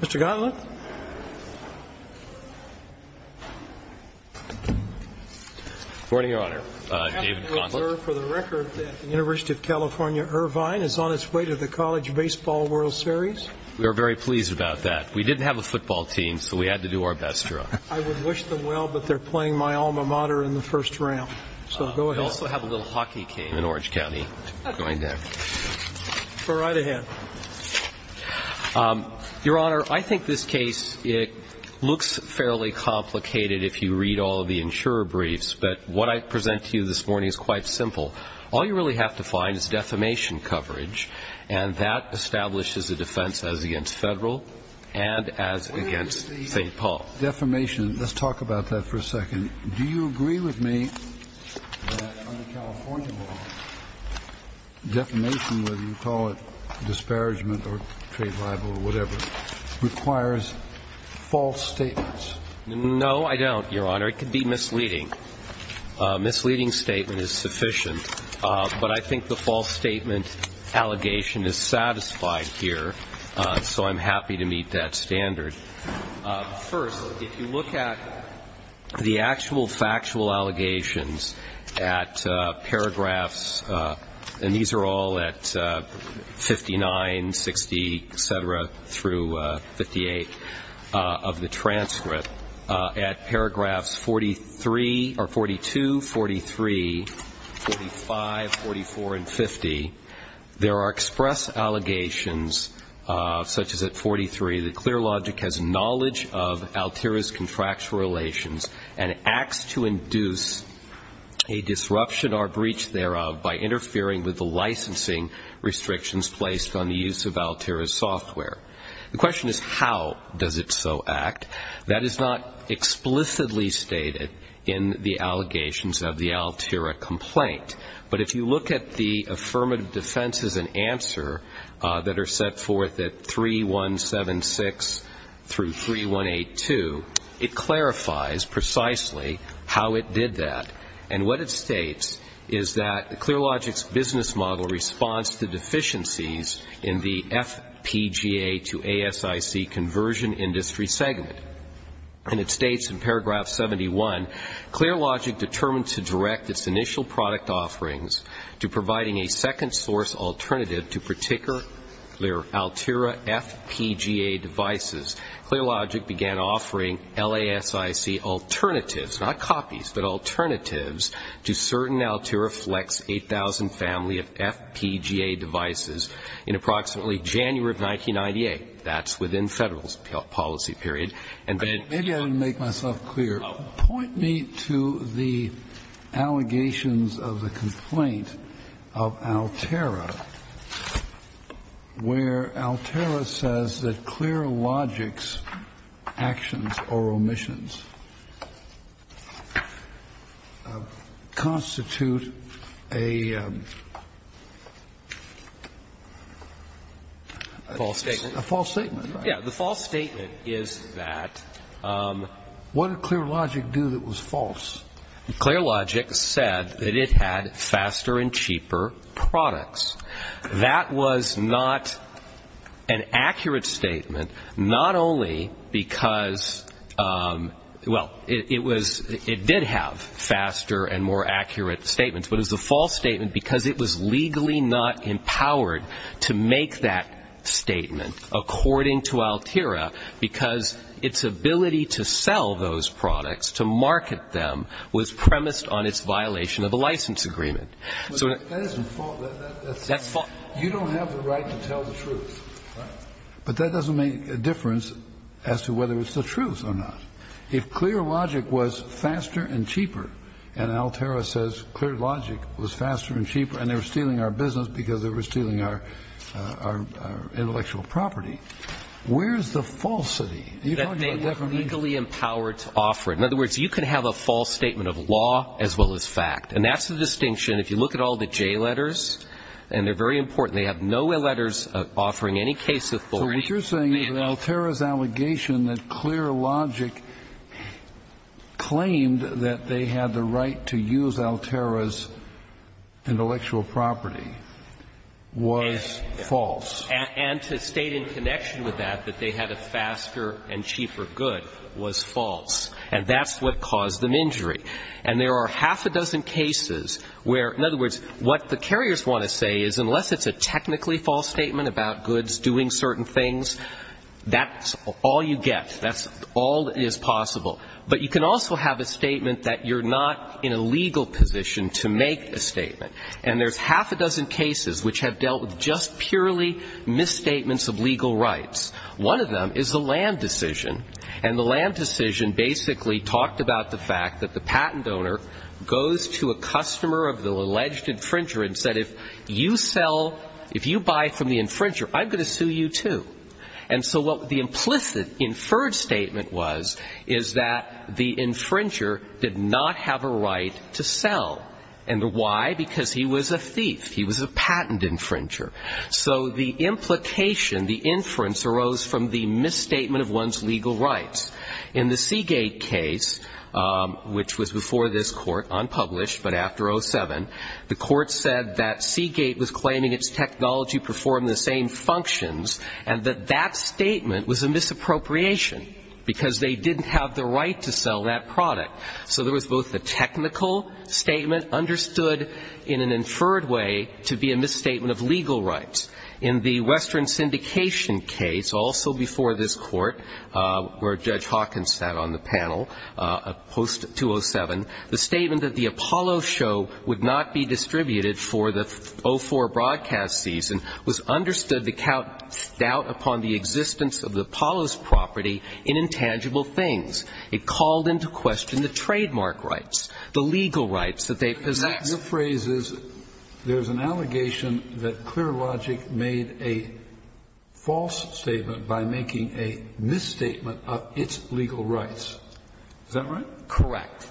Mr. Gauntlet. Good morning, Your Honor. David Gauntlet. For the record, the University of California, Irvine is on its way to the College Baseball World Series. We are very pleased about that. We didn't have a football team, so we had to do our best. I would wish them well, but they're playing my alma mater in the first round, so go ahead. We also have a little hockey game in Orange County going down. Go right ahead. Your Honor, I think this case looks fairly complicated if you read all of the insurer briefs, but what I present to you this morning is quite simple. All you really have to find is defamation coverage, and that establishes a defense as against Federal and as against St. Paul. Where is the defamation? Let's talk about that for a second. Do you agree with me that under California law, defamation, whether you call it disparagement or trade libel or whatever, requires false statements? No, I don't, Your Honor. It could be misleading. A misleading statement is sufficient, but I think the false statement allegation is satisfied here, so I'm happy to meet that standard. First, if you look at the actual factual allegations at paragraphs, and these are all at 59, 60, et cetera, through 58 of the transcript, at paragraphs 42, 43, 45, 44, and 50, there are express allegations such as at 43, the clear logic has knowledge of Altera's contractual relations and acts to induce a disruption or breach thereof by interfering with the licensing restrictions placed on the use of Altera's software. The question is how does it so act? That is not explicitly stated in the allegations of the Altera complaint, but if you look at the affirmative defenses and answer that are set forth at 3176 through 3182, it clarifies precisely how it did that. And what it states is that clear logic's business model responds to deficiencies in the FPGA to ASIC conversion industry segment. And it states in paragraph 71, clear logic determined to direct its initial product offerings to providing a second source alternative to particular Altera FPGA devices. Clear logic began offering LASIC alternatives, not copies, but alternatives to certain Altera Flex 8000 family of FPGA devices in approximately January of 1998. That's within Federal's policy period. And then the question is how does it so act? Kennedy. Maybe I didn't make myself clear. Point me to the allegations of the complaint of Altera where Altera says that clear Yeah, the false statement is that. What did clear logic do that was false? Clear logic said that it had faster and cheaper products. That was not an accurate statement, not only because, well, it was, it did have faster and more accurate statements, but it was a false statement because it was legally not empowered to make that statement, according to Altera, because its ability to sell those products, to market them, was premised on its violation of a license agreement. But that isn't false. That's false. You don't have the right to tell the truth. But that doesn't make a difference as to whether it's the truth or not. If clear logic was faster and cheaper, and Altera says clear logic was faster and cheaper and they were stealing our business because they were stealing our intellectual property, where's the falsity? That they were legally empowered to offer it. In other words, you can have a false statement of law as well as fact. And that's the distinction. If you look at all the J letters, and they're very important, they have no letters offering any case authority. So what you're saying is Altera's allegation that clear logic claimed that they had the right to use Altera's intellectual property was false. And to state in connection with that that they had a faster and cheaper good was false. And that's what caused them injury. And there are half a dozen cases where, in other words, what the carriers want to say is unless it's a technically false statement about goods doing certain things, that's all you get. That's all that is possible. But you can also have a statement that you're not in a legal position to make a statement. And there's half a dozen cases which have dealt with just purely misstatements of legal rights. One of them is the land decision. And the land decision basically talked about the fact that the patent owner goes to a customer of the alleged infringer and said, if you buy from the infringer, I'm going to sue you too. And so what the implicit inferred statement was is that the infringer did not have a right to sell. And why? Because he was a thief. He was a patent infringer. So the implication, the inference arose from the misstatement of one's legal rights. In the Seagate case, which was before this Court, unpublished, but after 07, the Court said that Seagate was claiming its technology performed the same functions and that that statement was a misappropriation because they didn't have the right to sell that product. So there was both a technical statement understood in an inferred way to be a misstatement of legal rights. In the Western Syndication case, also before this Court, where Judge Hawkins sat on the panel, post-207, the statement that the Apollo show would not be distributed for the 04 broadcast season was understood to count doubt upon the existence of the Apollo's property in intangible things. It called into question the trademark rights, the legal rights that they possessed. Your phrase is, there's an allegation that Clear Logic made a false statement by making a misstatement of its legal rights. Is that right? Correct.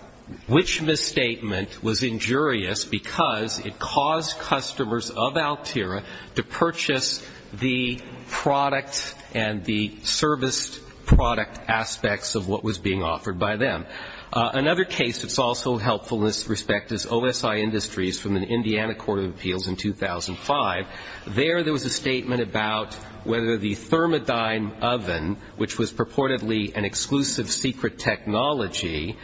Which misstatement was injurious because it caused customers of Altera to purchase the product and the serviced product aspects of what was being offered by them. Another case that's also helpful in this respect is OSI Industries from the Indiana Court of Appeals in 2005. There, there was a statement about whether the Thermodyne oven, which was purportedly an exclusive secret technology,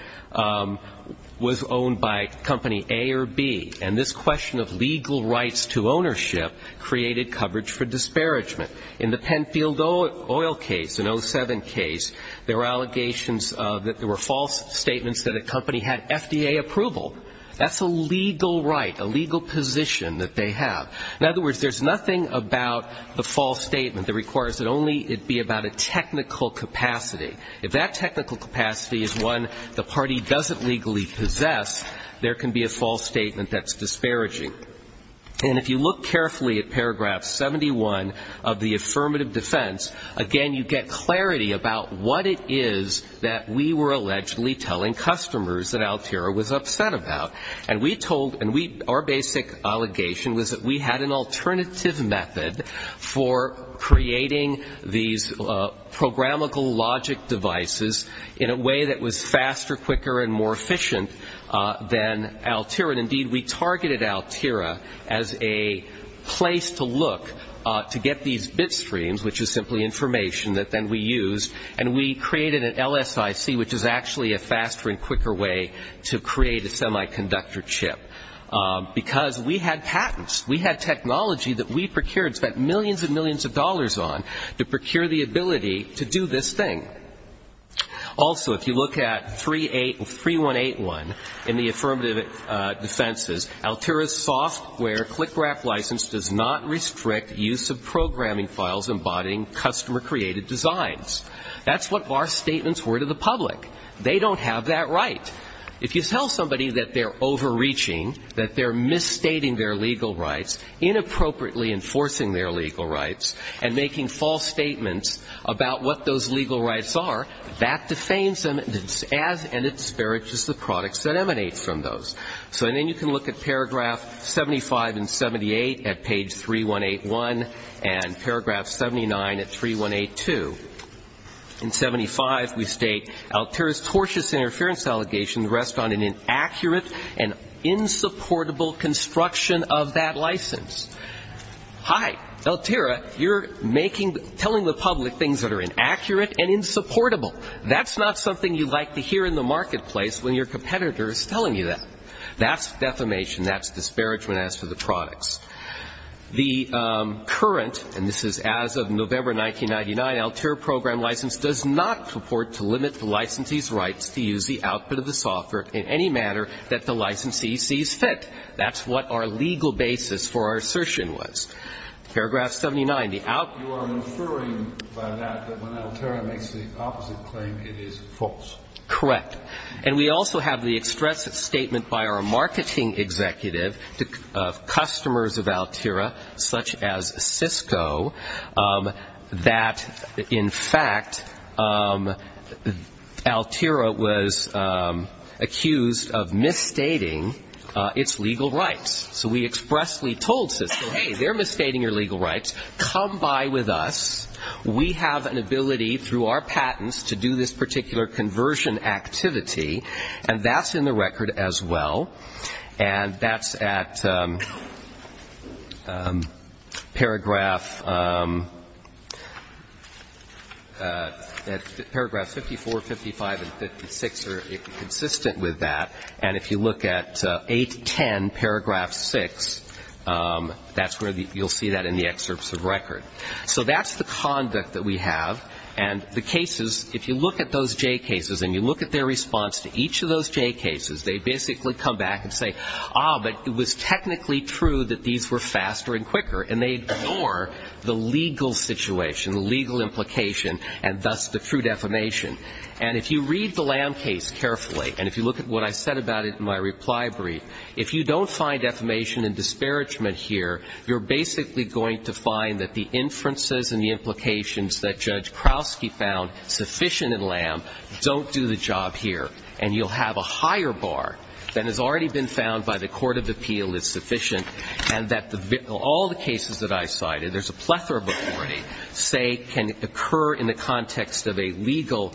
was owned by company A or B. And this question of legal rights to ownership created coverage for disparagement. In the Penfield Oil case, an 07 case, there were allegations that there were false statements that a company had FDA approval. That's a legal right, a legal position that they have. In other words, there's nothing about the false statement that requires that only it be about a technical capacity. If that technical capacity is one the party doesn't legally possess, there can be a false statement that's disparaging. And if you look carefully at paragraph 71 of the affirmative defense, again, you get clarity about what it is that we were allegedly telling customers that Altera was upset about. And we told, and we, our basic allegation was that we had an alternative method for creating these programmable logic devices in a way that was faster, quicker, and more efficient than Altera. And indeed, we targeted Altera as a place to look to get these bit streams, which is simply information that then we use, and we created an LSIC, which is actually a faster and quicker way to create a semiconductor chip. Because we had patents, we had technology that we procured, spent millions and millions of dollars on, to procure the ability to do this thing. Also, if you look at 3181 in the affirmative defenses, Altera's software click wrap license does not restrict use of programming files embodying customer-created designs. That's what our statements were to the public. They don't have that right. If you tell somebody that they're overreaching, that they're misstating their legal rights, inappropriately enforcing their legal rights, and making false statements about what those legal rights are, that defames them, and it disparages the products that emanate from those. So then you can look at paragraph 75 and 78 at page 3181, and paragraph 79 at 3182. In 75, we state, Altera's tortious interference allegations rest on an inaccurate and insupportable construction of that license. Hi, Altera, you're making, telling the public things that are inaccurate and insupportable. That's not something you like to hear in the marketplace when your competitor is telling you that. That's defamation. That's disparagement as for the products. The current, and this is as of November 1999, Altera program license does not purport to limit the licensee's rights to use the output of the software in any manner that the licensee sees fit. That's what our legal basis for our assertion was. Paragraph 79. You are inferring by that that when Altera makes the opposite claim, it is false. Correct. And we also have the express statement by our marketing executive of customers of Altera, such as Cisco, that in fact, Altera was accused of misstating its legal rights. So we expressly told Cisco, hey, they're misstating your legal rights, come by with us. We have an ability through our patents to do this particular conversion activity, and that's in the record as well. And that's at paragraph 54, 55, and 56 are consistent with that. And if you look at 810 paragraph 6, that's where you'll see that in the excerpts of record. So that's the conduct that we have. And the cases, if you look at those J cases and you look at their response to each of those J cases, they basically come back and say, ah, but it was technically true that these were faster and quicker, and they ignore the legal situation, the legal implication, and thus the true defamation. And if you read the Lamb case carefully, and if you look at what I said about it in my reply brief, if you don't find defamation and disparagement here, you're basically going to find that the inferences and the implications that Judge Krauske found sufficient in Lamb don't do the job here, and you'll have a higher bar than has already been found by the court of appeal is sufficient, and that all the cases that I cited, there's a plethora of authority, say can occur in the context of a legal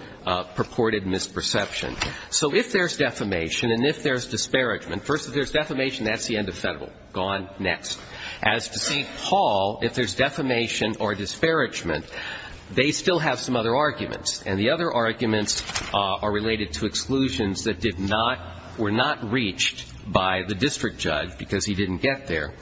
purported misperception. So if there's defamation and if there's disparagement, first if there's defamation, that's the end of federal. Gone next. As to St. Paul, if there's defamation or disparagement, they still have some other arguments. And the other arguments are related to exclusions that did not, were not reached by the district judge because he didn't get there.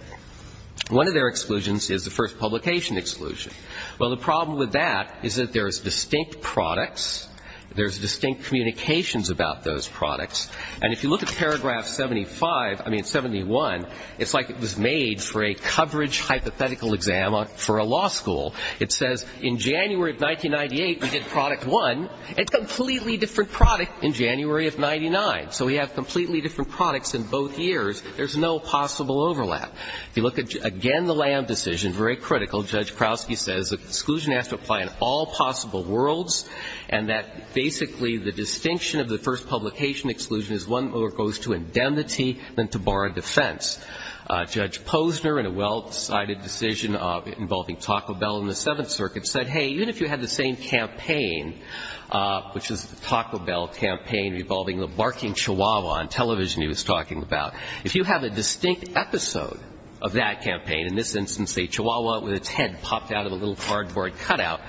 One of their exclusions is the first publication exclusion. Well, the problem with that is that there's distinct products. There's distinct communications about those products. And if you look at paragraph 75, I mean 71, it's like it was made for a coverage hypothetical exam for a law school. It says in January of 1998, we did product one. It's a completely different product in January of 99. So we have completely different products in both years. There's no possible overlap. If you look at, again, the Lamb decision, very critical. Judge Krausky says exclusion has to apply in all possible worlds and that basically the distinction of the first publication exclusion is one that goes to indemnity than to bar and defense. Judge Posner, in a well-decided decision involving Taco Bell in the Seventh Circuit, said, hey, even if you had the same campaign, which is the Taco Bell campaign involving the barking chihuahua on television he was talking about, if you have a distinct episode of that campaign, in this instance a chihuahua with its head popped out of a little cardboard cutout,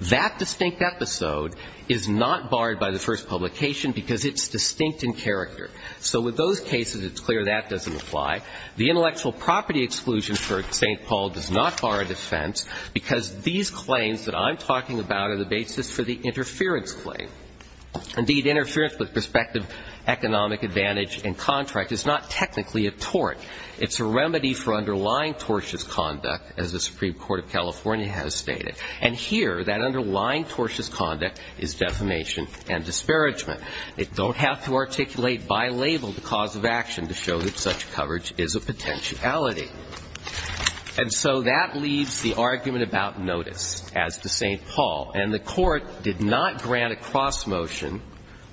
that distinct episode is not barred by the first publication because it's distinct in character. So with those cases, it's clear that doesn't apply. The intellectual property exclusion for St. Paul does not bar a defense because these claims that I'm talking about are the basis for the interference claim. Indeed, interference with prospective economic advantage and contract is not technically a tort. It's a remedy for underlying tortious conduct, as the Supreme Court of California has stated. And here, that underlying tortious conduct is defamation and disparagement. It don't have to articulate by label the cause of action to show that such coverage is a potentiality. And so that leaves the argument about notice as to St. Paul. And the Court did not grant a cross motion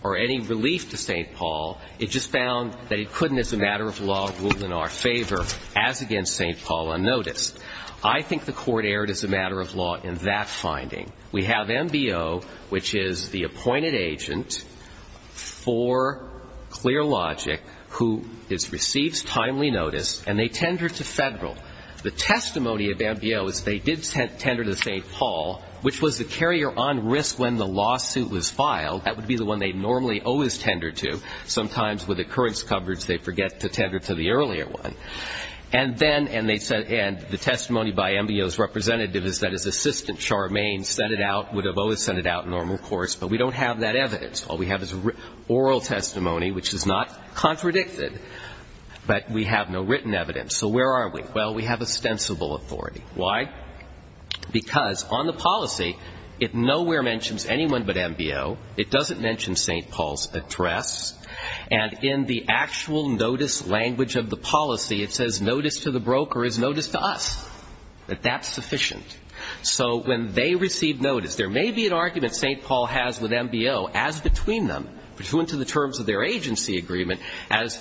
or any relief to St. Paul. It just found that it couldn't as a matter of law rule in our favor as against St. Paul unnoticed. I think the Court erred as a matter of law in that finding. We have MBO, which is the appointed agent for Clear Logic who receives timely notice, and they tender to Federal. The testimony of MBO is they did tender to St. Paul, which was the carrier on risk when the lawsuit was filed. That would be the one they normally always tender to. Sometimes with occurrence coverage, they forget to tender to the earlier one. And the testimony by MBO's representative is that his assistant, Charmaine, sent it out, would have always sent it out in normal course. But we don't have that evidence. All we have is oral testimony, which is not contradicted. But we have no written evidence. So where are we? Well, we have ostensible authority. Why? Because on the policy, it nowhere mentions anyone but MBO. It doesn't mention St. Paul's address. And in the actual notice language of the policy, it says notice to the broker is notice to us, that that's sufficient. So when they receive notice, there may be an argument St. Paul has with MBO as between them, between to the terms of their agency agreement, as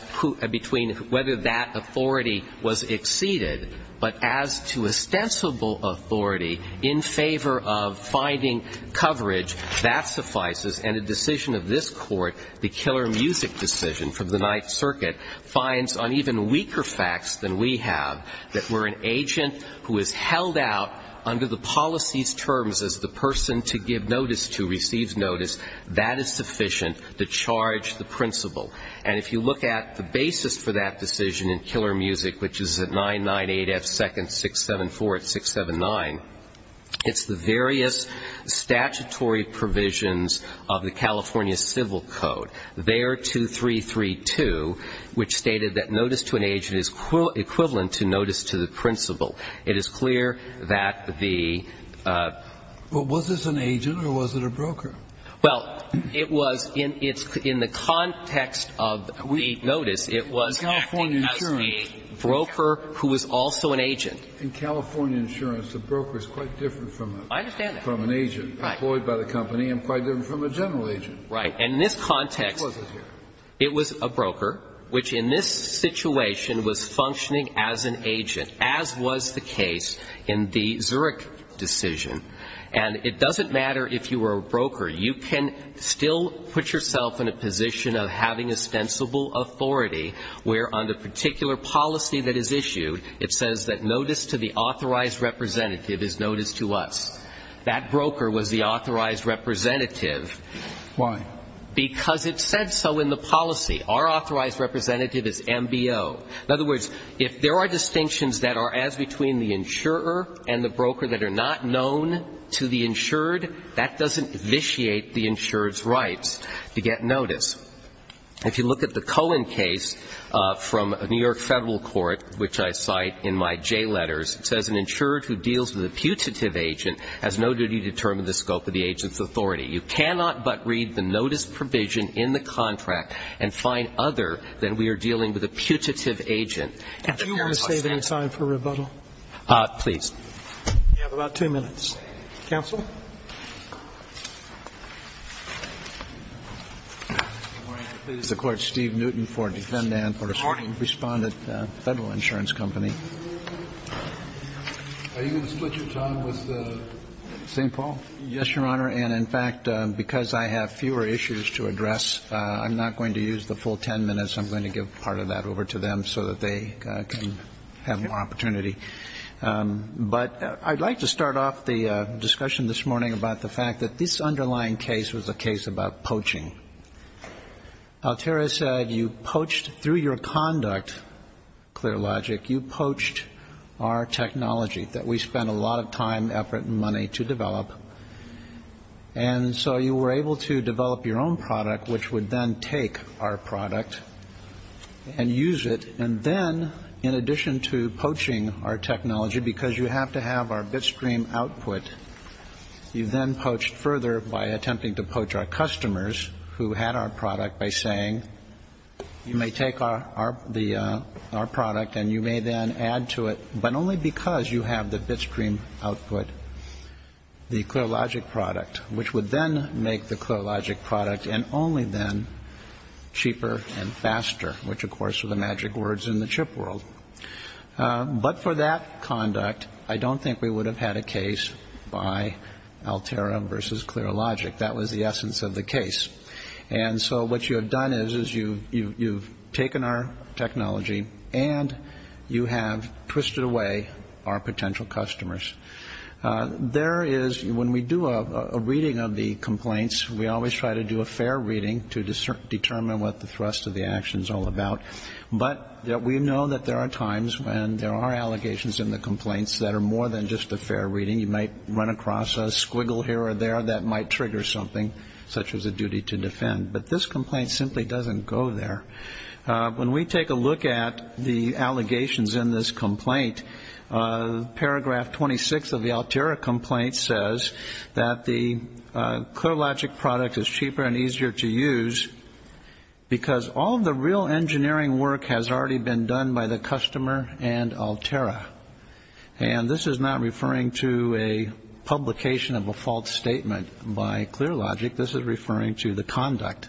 between whether that authority was exceeded. But as to ostensible authority in favor of finding coverage, that suffices. And a decision of this Court, the Killer Music decision from the Ninth Circuit, finds on even weaker facts than we have that we're an agent who is held out under the policy's terms as the person to give notice to receives notice. That is sufficient to charge the principal. And if you look at the basis for that decision in Killer Music, which is at 998-F-674-679, it's the various statutory provisions of the California Civil Code, there 2332, which stated that notice to an agent is equivalent to notice to the principal. It is clear that the ---- But was this an agent or was it a broker? Well, it was in the context of the notice. It was acted as the broker who was also an agent. In California insurance, the broker is quite different from an agent employed by the company and quite different from a general agent. Right. And in this context, it was a broker, which in this situation was functioning as an agent, as was the case in the Zurich decision. And it doesn't matter if you were a broker. You can still put yourself in a position of having ostensible authority where on the representative is notice to us. That broker was the authorized representative. Why? Because it said so in the policy. Our authorized representative is MBO. In other words, if there are distinctions that are as between the insurer and the broker that are not known to the insured, that doesn't vitiate the insured's rights to get notice. If you look at the Cohen case from New York Federal Court, which I cite in my J letters, it says an insured who deals with a putative agent has no duty to determine the scope of the agent's authority. You cannot but read the notice provision in the contract and find other than we are dealing with a putative agent. Do you want to save any time for rebuttal? Please. You have about two minutes. Counsel? Good morning. This is the Court's Steve Newton for Defendant for Respondent Federal Insurance Company. Are you going to split your time with the St. Paul? Yes, Your Honor. And in fact, because I have fewer issues to address, I'm not going to use the full 10 minutes. I'm going to give part of that over to them so that they can have more opportunity. But I'd like to start off the discussion this morning about the fact that this underlying case was a case about poaching. Altera said you poached through your conduct, ClearLogic, you poached our technology that we spent a lot of time, effort, and money to develop. And so you were able to develop your own product, which would then take our product and use it. And then, in addition to poaching our technology, because you have to have our Bitstream output, you then poached further by attempting to poach our customers who had our product by saying you may take our product and you may then add to it, but only because you have the Bitstream output, the ClearLogic product, which would then make the ClearLogic product and only then cheaper and faster, which, of course, are the magic words in the chip world. But for that conduct, I don't think we would have had a case by Altera versus ClearLogic. That was the essence of the case. And so what you have done is you've taken our technology and you have twisted away our potential customers. There is, when we do a reading of the complaints, we always try to do a fair reading to determine what the thrust of the action is all about. But we know that there are times when there are allegations in the complaints that are more than just a fair reading. You might run across a squiggle here or there that might trigger something, such as a duty to defend. But this complaint simply doesn't go there. When we take a look at the allegations in this complaint, paragraph 26 of the Altera complaint says that the ClearLogic product is cheaper and easier to use because all of the real engineering work has already been done by the customer and Altera. And this is not referring to a publication of a false statement by ClearLogic. This is referring to the conduct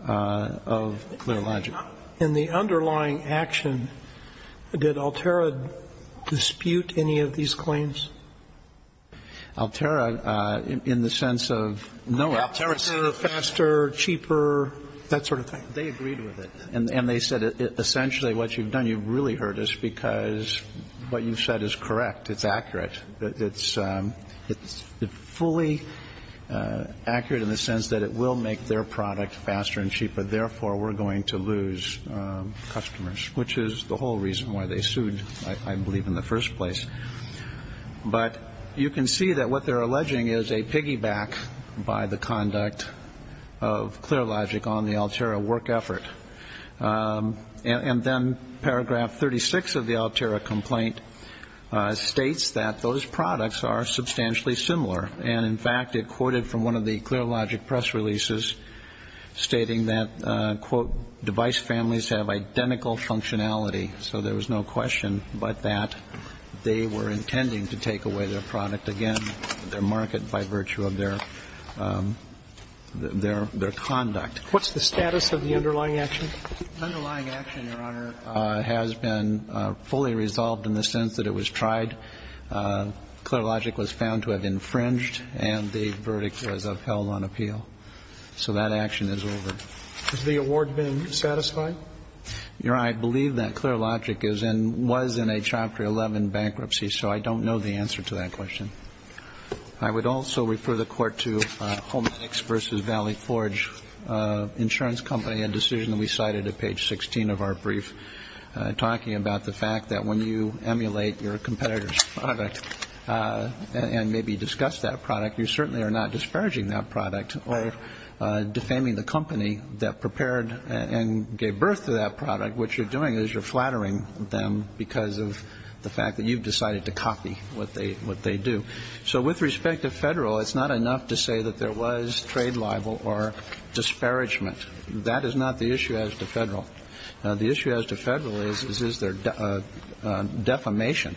of ClearLogic. In the underlying action, did Altera dispute any of these claims? Altera, in the sense of, no, Altera is faster, cheaper, that sort of thing. They agreed with it. And they said essentially what you've done, you've really hurt us because what you've said is correct. It's accurate. It's fully accurate in the sense that it will make their product faster and cheaper. Therefore, we're going to lose customers, which is the whole reason why they sued, I believe, in the first place. But you can see that what they're alleging is a piggyback by the conduct of ClearLogic on the Altera work effort. And then paragraph 36 of the Altera complaint states that those products are substantially similar. And, in fact, it quoted from one of the ClearLogic press releases stating that, quote, device families have identical functionality. So there was no question but that they were intending to take away their product again, their market, by virtue of their conduct. What's the status of the underlying action? The underlying action, Your Honor, has been fully resolved in the sense that it was tried. ClearLogic was found to have infringed, and the verdict was upheld on appeal. So that action is over. Has the award been satisfied? Your Honor, I believe that ClearLogic is and was in a Chapter 11 bankruptcy, so I don't know the answer to that question. I would also refer the Court to Hometics v. Valley Forge Insurance Company, a decision we cited at page 16 of our brief, talking about the fact that when you emulate your competitor's product and maybe discuss that product, you certainly are not disparaging that product or defaming the company that prepared and gave birth to that product. What you're doing is you're flattering them because of the fact that you've decided to copy what they do. So with respect to Federal, it's not enough to say that there was trade libel or disparagement. That is not the issue as to Federal. The issue as to Federal is, is there defamation?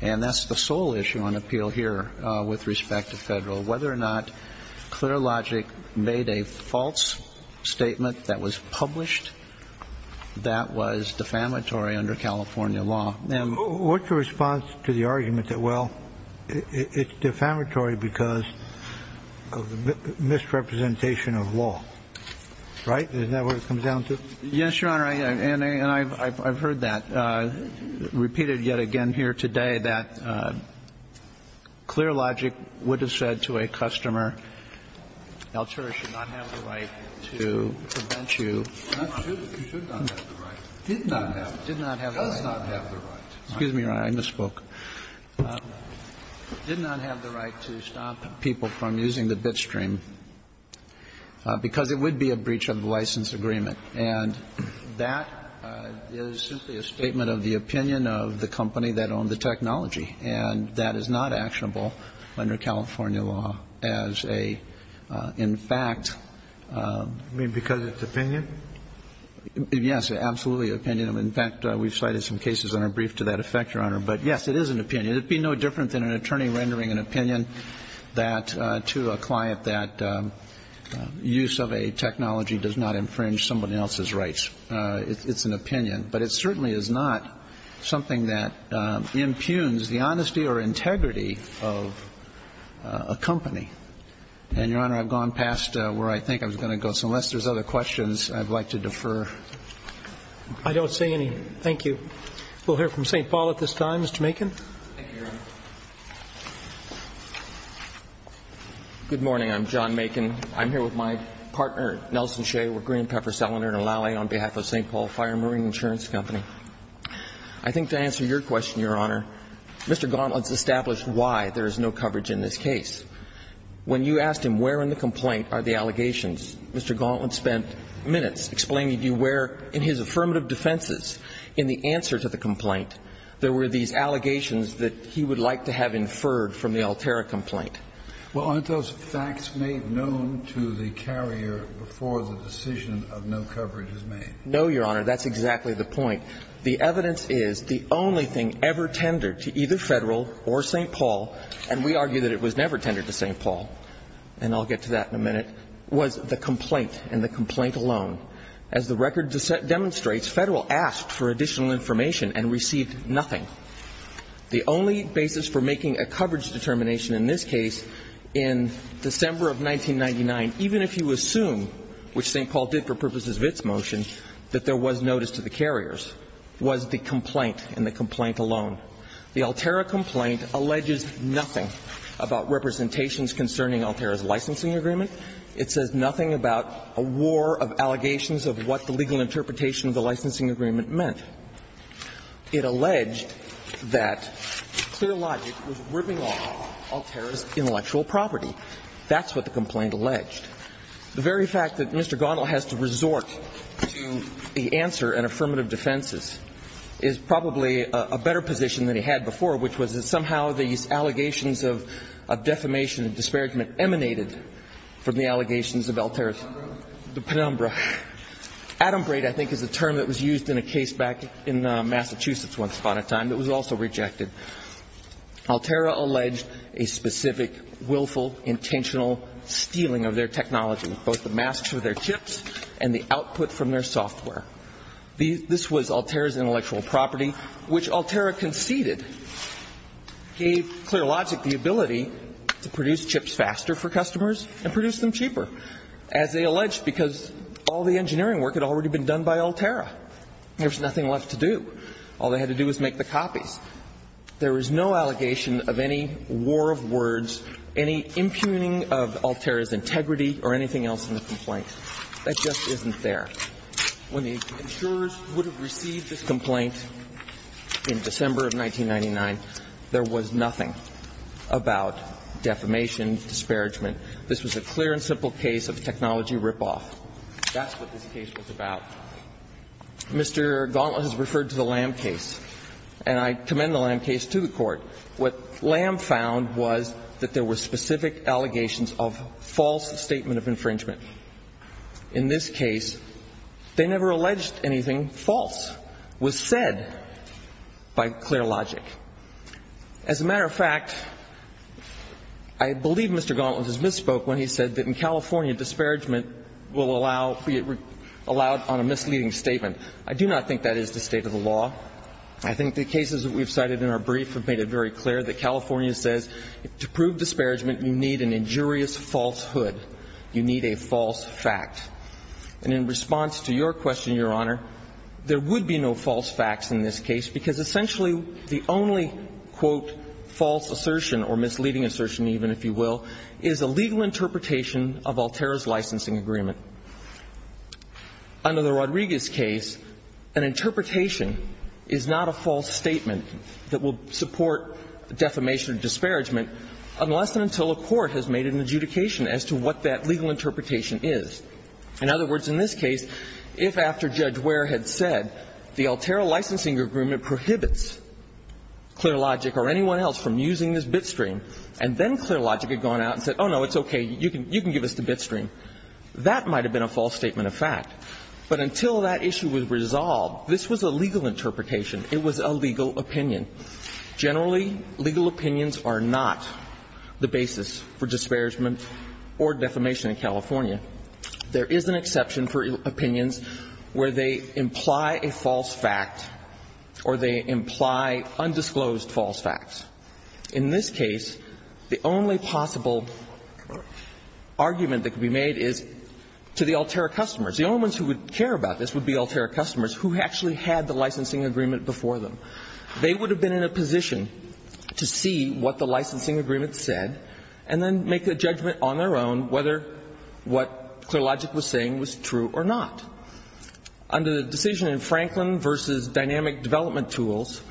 And that's the sole issue on appeal here with respect to Federal, whether or not ClearLogic made a false statement that was published that was defamatory under California law. What's your response to the argument that, well, it's defamatory because of the misrepresentation of law? Right? Isn't that what it comes down to? Yes, Your Honor. And I've heard that repeated yet again here today, that ClearLogic would have said to a customer, Altura should not have the right to prevent you. It should not have the right. Did not have the right. It does not have the right. Excuse me, Your Honor. I misspoke. Did not have the right to stop people from using the Bitstream because it would be a breach of the license agreement. And that is simply a statement of the opinion of the company that owned the technology. And that is not actionable under California law as a, in fact ---- You mean because it's opinion? Yes, absolutely opinion. In fact, we've cited some cases in our brief to that effect, Your Honor. But, yes, it is an opinion. It would be no different than an attorney rendering an opinion that to a client that use of a technology does not infringe someone else's rights. It's an opinion. But it certainly is not something that impugns the honesty or integrity of a company. And, Your Honor, I've gone past where I think I was going to go. So unless there's other questions, I'd like to defer. I don't see any. Thank you. We'll hear from St. Paul at this time. Mr. Macon. Thank you, Your Honor. Good morning. I'm John Macon. I'm here with my partner, Nelson Shea, with Green Pepper Cellular in Lally on behalf of St. Paul Fire and Marine Insurance Company. I think to answer your question, Your Honor, Mr. Gauntlet's established why there is no coverage in this case. When you asked him where in the complaint are the allegations, Mr. Gauntlet spent minutes explaining to you where in his affirmative defenses, in the answer to the complaint, there were these allegations that he would like to have inferred from the Alterra complaint. Well, aren't those facts made known to the carrier before the decision of no coverage is made? No, Your Honor. That's exactly the point. The evidence is the only thing ever tendered to either Federal or St. Paul, and we argue that it was never tendered to St. Paul, and I'll get to that in a minute, was the complaint in the complaint alone. As the record demonstrates, Federal asked for additional information and received nothing. The only basis for making a coverage determination in this case in December of 1999, even if you assume, which St. Paul did for purposes of its motion, that there was notice to the carriers, was the complaint in the complaint alone. The Alterra complaint alleges nothing about representations concerning Alterra's licensing agreement. It says nothing about a war of allegations of what the legal interpretation of the licensing agreement meant. It alleged that clear logic was ripping off Alterra's intellectual property. That's what the complaint alleged. The very fact that Mr. Gondel has to resort to the answer in affirmative defenses is probably a better position than he had before, which was that somehow these allegations of defamation and disparagement emanated from the allegations of Alterra's penumbra. Adumbrate, I think, is a term that was used in a case back in Massachusetts once upon a time that was also rejected. Alterra alleged a specific willful, intentional stealing of their technology, both the masks for their chips and the output from their software. This was Alterra's intellectual property, which Alterra conceded gave clear logic about the ability to produce chips faster for customers and produce them cheaper, as they alleged, because all the engineering work had already been done by Alterra. There was nothing left to do. All they had to do was make the copies. There was no allegation of any war of words, any impugning of Alterra's integrity or anything else in the complaint. That just isn't there. When the insurers would have received this complaint in December of 1999, there was nothing about defamation, disparagement. This was a clear and simple case of technology ripoff. That's what this case was about. Mr. Gauntlet has referred to the Lamb case, and I commend the Lamb case to the Court. What Lamb found was that there were specific allegations of false statement of infringement. In this case, they never alleged anything false. It was said by clear logic. As a matter of fact, I believe Mr. Gauntlet has misspoke when he said that in California disparagement will allow be it allowed on a misleading statement. I do not think that is the state of the law. I think the cases that we've cited in our brief have made it very clear that California says to prove disparagement, you need an injurious falsehood. You need a false fact. And in response to your question, Your Honor, there would be no false facts in this case because essentially the only, quote, false assertion or misleading assertion even, if you will, is a legal interpretation of Alterra's licensing agreement. Under the Rodriguez case, an interpretation is not a false statement that will support defamation or disparagement unless and until a court has made an adjudication as to what that legal interpretation is. In other words, in this case, if after Judge Ware had said the Alterra licensing agreement prohibits clear logic or anyone else from using this bitstream, and then clear logic had gone out and said, oh, no, it's okay, you can give us the bitstream, that might have been a false statement of fact. But until that issue was resolved, this was a legal interpretation. It was a legal opinion. Generally, legal opinions are not the basis for disparagement or defamation in California. There is an exception for opinions where they imply a false fact or they imply undisclosed false facts. In this case, the only possible argument that could be made is to the Alterra customers. The only ones who would care about this would be Alterra customers who actually had the licensing agreement before them. They would have been in a position to see what the licensing agreement said and then what clear logic was saying was true or not. Under the decision in Franklin v. Dynamic Development Tools,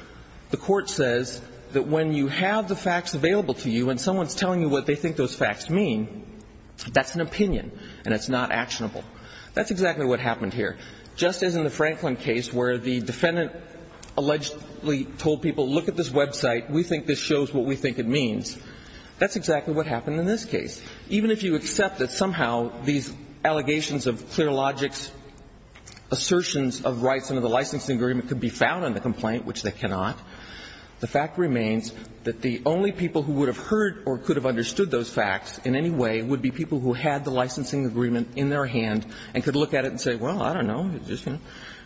the Court says that when you have the facts available to you and someone is telling you what they think those facts mean, that's an opinion and it's not actionable. That's exactly what happened here. Just as in the Franklin case where the defendant allegedly told people, look at this website, we think this shows what we think it means, that's exactly what happened in this case. Even if you accept that somehow these allegations of clear logics, assertions of rights under the licensing agreement could be found on the complaint, which they cannot, the fact remains that the only people who would have heard or could have understood those facts in any way would be people who had the licensing agreement in their hand and could look at it and say, well, I don't know,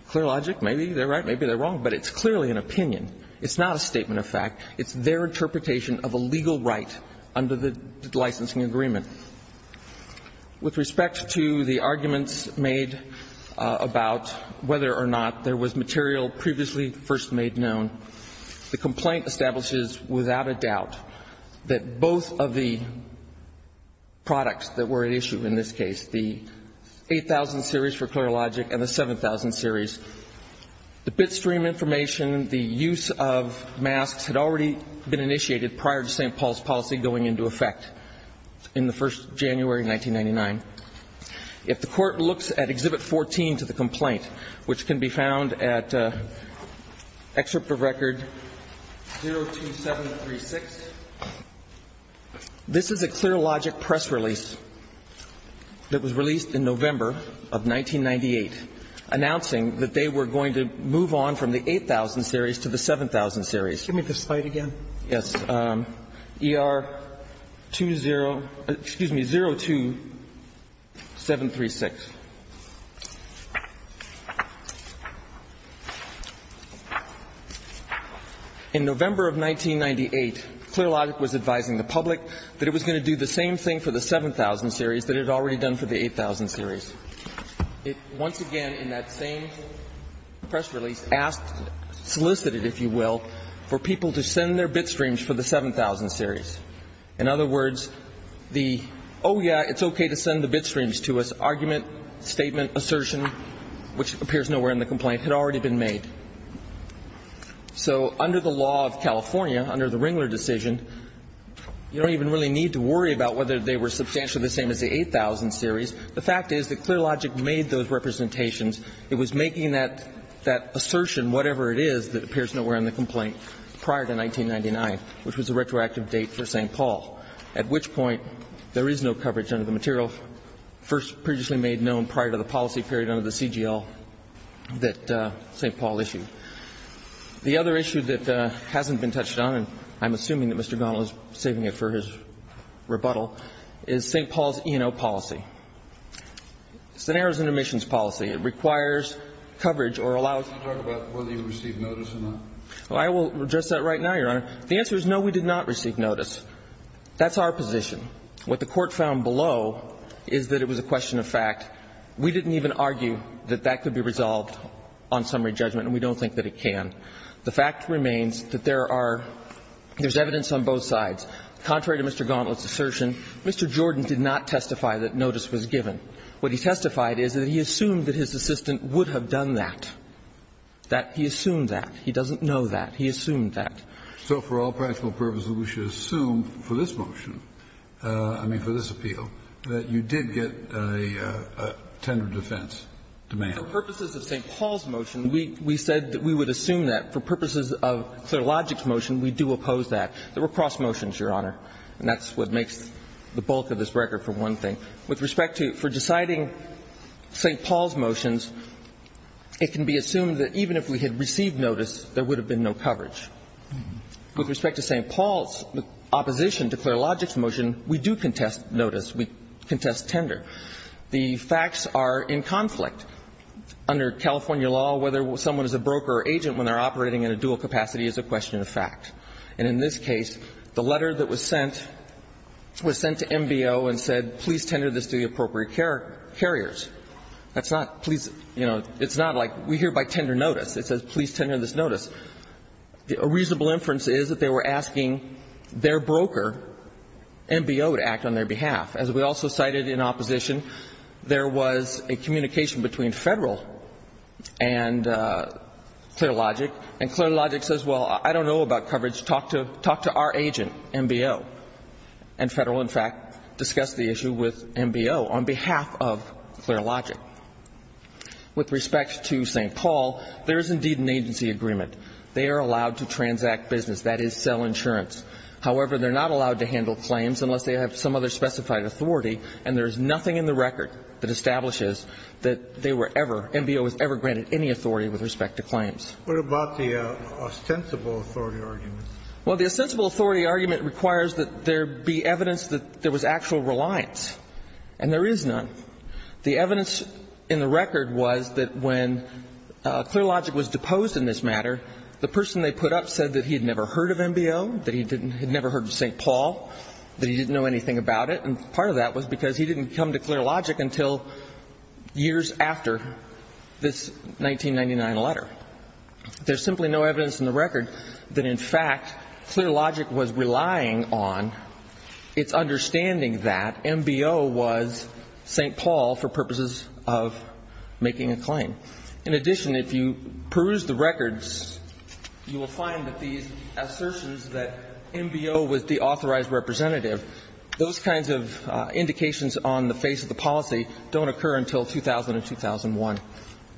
clear logic, maybe they're right, maybe they're wrong, but it's clearly an opinion. It's not a statement of fact. It's their interpretation of a legal right under the licensing agreement. With respect to the arguments made about whether or not there was material previously first made known, the complaint establishes without a doubt that both of the products that were at issue in this case, the 8000 series for clear logic and the 7000 series, the bit stream information, the use of masks had already been initiated prior to St. Paul's policy going into effect in the first January 1999. If the court looks at Exhibit 14 to the complaint, which can be found at Excerpt of Record 02736, this is a clear logic press release that was released in 1998, and it states that they were going to move on from the 8000 series to the 7000 series. Give me the slide again. Yes. ER20, excuse me, 02736. In November of 1998, clear logic was advising the public that it was going to do the same thing for the 7000 series that it had already done for the 8000 series. It once again, in that same press release, asked, solicited, if you will, for people to send their bit streams for the 7000 series. In other words, the oh, yeah, it's okay to send the bit streams to us argument, statement, assertion, which appears nowhere in the complaint, had already been made. So under the law of California, under the Ringler decision, you don't even really need to worry about whether they were substantially the same as the 8000 series. The fact is that clear logic made those representations. It was making that assertion, whatever it is, that appears nowhere in the complaint, prior to 1999, which was a retroactive date for St. Paul, at which point there is no coverage under the material first previously made known prior to the policy period under the CGL that St. Paul issued. The other issue that hasn't been touched on, and I'm assuming that Mr. Gauntle is saving it for his rebuttal, is St. Paul's E&O policy. It's an errors and omissions policy. It requires coverage or allows you to talk about whether you received notice or not. Well, I will address that right now, Your Honor. The answer is no, we did not receive notice. That's our position. What the Court found below is that it was a question of fact. We didn't even argue that that could be resolved on summary judgment, and we don't think that it can. The fact remains that there are – there's evidence on both sides. Contrary to Mr. Gauntle's assertion, Mr. Jordan did not testify that notice was given. What he testified is that he assumed that his assistant would have done that. That he assumed that. He doesn't know that. He assumed that. So for all practical purposes, we should assume for this motion, I mean for this appeal, that you did get a tender defense demand. For purposes of St. Paul's motion, we said that we would assume that. For purposes of ClearLogic's motion, we do oppose that. There were cross motions, Your Honor, and that's what makes the bulk of this record, for one thing. With respect to – for deciding St. Paul's motions, it can be assumed that even if we had received notice, there would have been no coverage. With respect to St. Paul's opposition to ClearLogic's motion, we do contest notice. We contest tender. The facts are in conflict. Under California law, whether someone is a broker or agent when they're operating in a dual capacity is a question of fact. And in this case, the letter that was sent was sent to MBO and said, please tender this to the appropriate carriers. That's not, please, you know, it's not like we hear by tender notice. It says, please tender this notice. A reasonable inference is that they were asking their broker, MBO, to act on their behalf. As we also cited in opposition, there was a communication between Federal and ClearLogic, and ClearLogic says, well, I don't know about coverage. Talk to our agent, MBO. And Federal, in fact, discussed the issue with MBO on behalf of ClearLogic. With respect to St. Paul, there is indeed an agency agreement. They are allowed to transact business. That is, sell insurance. However, they're not allowed to handle claims unless they have some other specified authority, and there is nothing in the record that establishes that they were ever – MBO was ever granted any authority with respect to claims. What about the ostensible authority argument? Well, the ostensible authority argument requires that there be evidence that there was actual reliance, and there is none. The evidence in the record was that when ClearLogic was deposed in this matter, the person they put up said that he had never heard of MBO, that he had never heard of St. Paul, that he didn't know anything about it, and part of that was because he didn't come to ClearLogic until years after this 1999 letter. There's simply no evidence in the record that, in fact, ClearLogic was relying on its understanding that MBO was St. Paul for purposes of making a claim. In addition, if you peruse the records, you will find that these assertions that MBO was the authorized representative, those kinds of indications on the face of the policy don't occur until 2000 and 2001.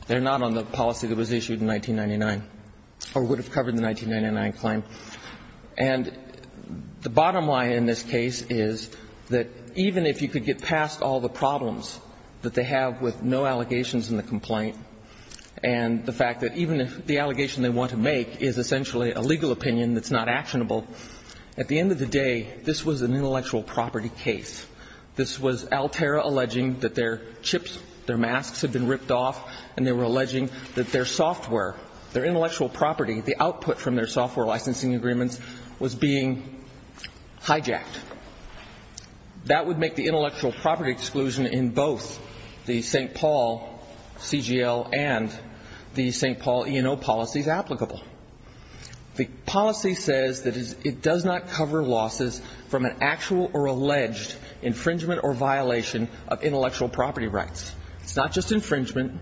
They're not on the policy that was issued in 1999 or would have covered the 1999 claim. And the bottom line in this case is that even if you could get past all the problems that they have with no allegations in the complaint and the fact that even if the allegation they want to make is essentially a legal opinion that's not actionable, at the end of the day, this was an intellectual property case. This was Altera alleging that their chips, their masks had been ripped off, and they were alleging that their software, their intellectual property, the output from their software licensing agreements, was being hijacked. That would make the intellectual property exclusion in both the St. Paul CGL and the St. Paul E&O policies applicable. The policy says that it does not cover losses from an actual or alleged infringement or violation of intellectual property rights. It's not just infringement.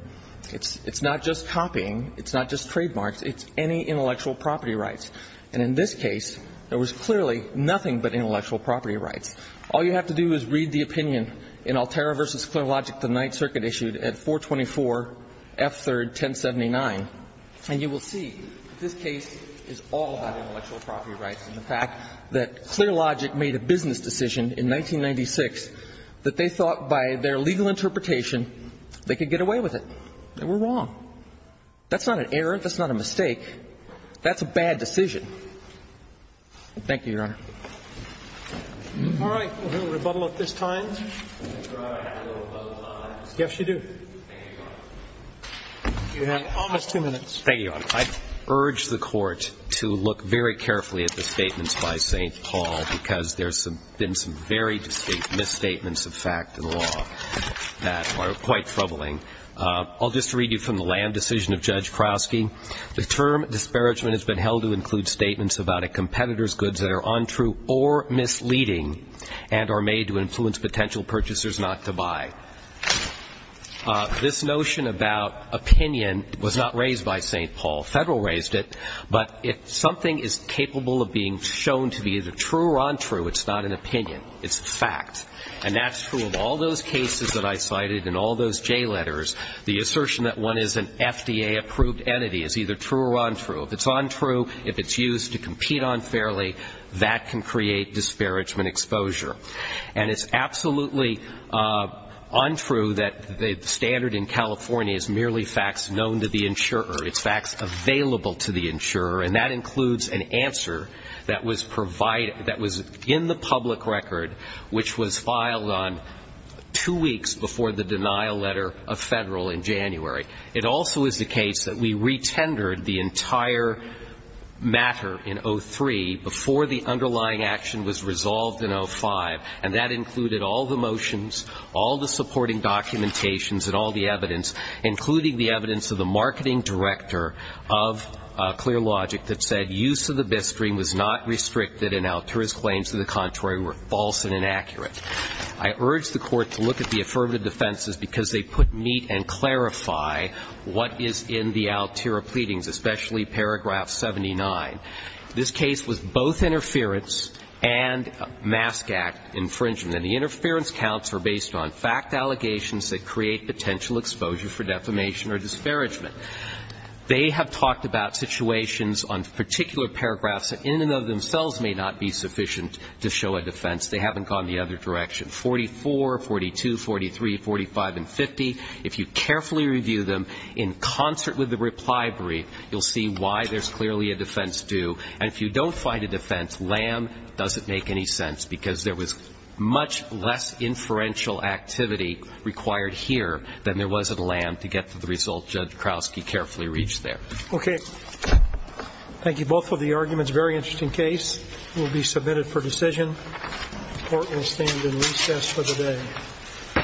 It's not just copying. It's not just trademarks. It's any intellectual property rights. And in this case, there was clearly nothing but intellectual property rights. All you have to do is read the opinion in Altera v. Clerologic, the Ninth Circuit, issued at 424 F3rd 1079, and you will see that this case is all about intellectual property rights and the fact that Clerologic made a business decision in 1996 that they thought by their legal interpretation they could get away with it. They were wrong. That's not an error. That's not a mistake. That's a bad decision. Thank you, Your Honor. All right. We'll hear a rebuttal at this time. Yes, you do. Thank you, Your Honor. You have almost two minutes. Thank you, Your Honor. I urge the Court to look very carefully at the statements by St. Paul because there's been some very distinct misstatements of fact in the law that are quite troubling. I'll just read you from the land decision of Judge Kroski. The term disparagement has been held to include statements about a competitor's meeting and are made to influence potential purchasers not to buy. This notion about opinion was not raised by St. Paul. Federal raised it. But if something is capable of being shown to be either true or untrue, it's not an opinion. It's a fact. And that's true of all those cases that I cited and all those J letters. The assertion that one is an FDA-approved entity is either true or untrue. If it's untrue, if it's used to compete unfairly, that can create disparagement exposure. And it's absolutely untrue that the standard in California is merely facts known to the insurer. It's facts available to the insurer. And that includes an answer that was provided, that was in the public record, which was filed on two weeks before the denial letter of Federal in January. It also is the case that we retendered the entire matter in 03 before the underlying action was resolved in 05, and that included all the motions, all the supporting documentations, and all the evidence, including the evidence of the marketing director of ClearLogic that said use of the Bistring was not restricted and Altura's claims to the contrary were false and inaccurate. I urge the Court to look at the affirmative defenses because they put meat and clarify what is in the Altura pleadings, especially paragraph 79. This case was both interference and mask act infringement. And the interference counts are based on fact allegations that create potential exposure for defamation or disparagement. They have talked about situations on particular paragraphs that in and of themselves may not be sufficient to show a defense. They haven't gone the other direction. 44, 42, 43, 45, and 50, if you carefully review them in concert with the reply brief, you'll see why there's clearly a defense due. And if you don't find a defense, LAM doesn't make any sense because there was much less inferential activity required here than there was at LAM to get to the result Judge Krauske carefully reached there. Okay. Thank you both for the arguments. Very interesting case. It will be submitted for decision. Court will stand in recess for the day.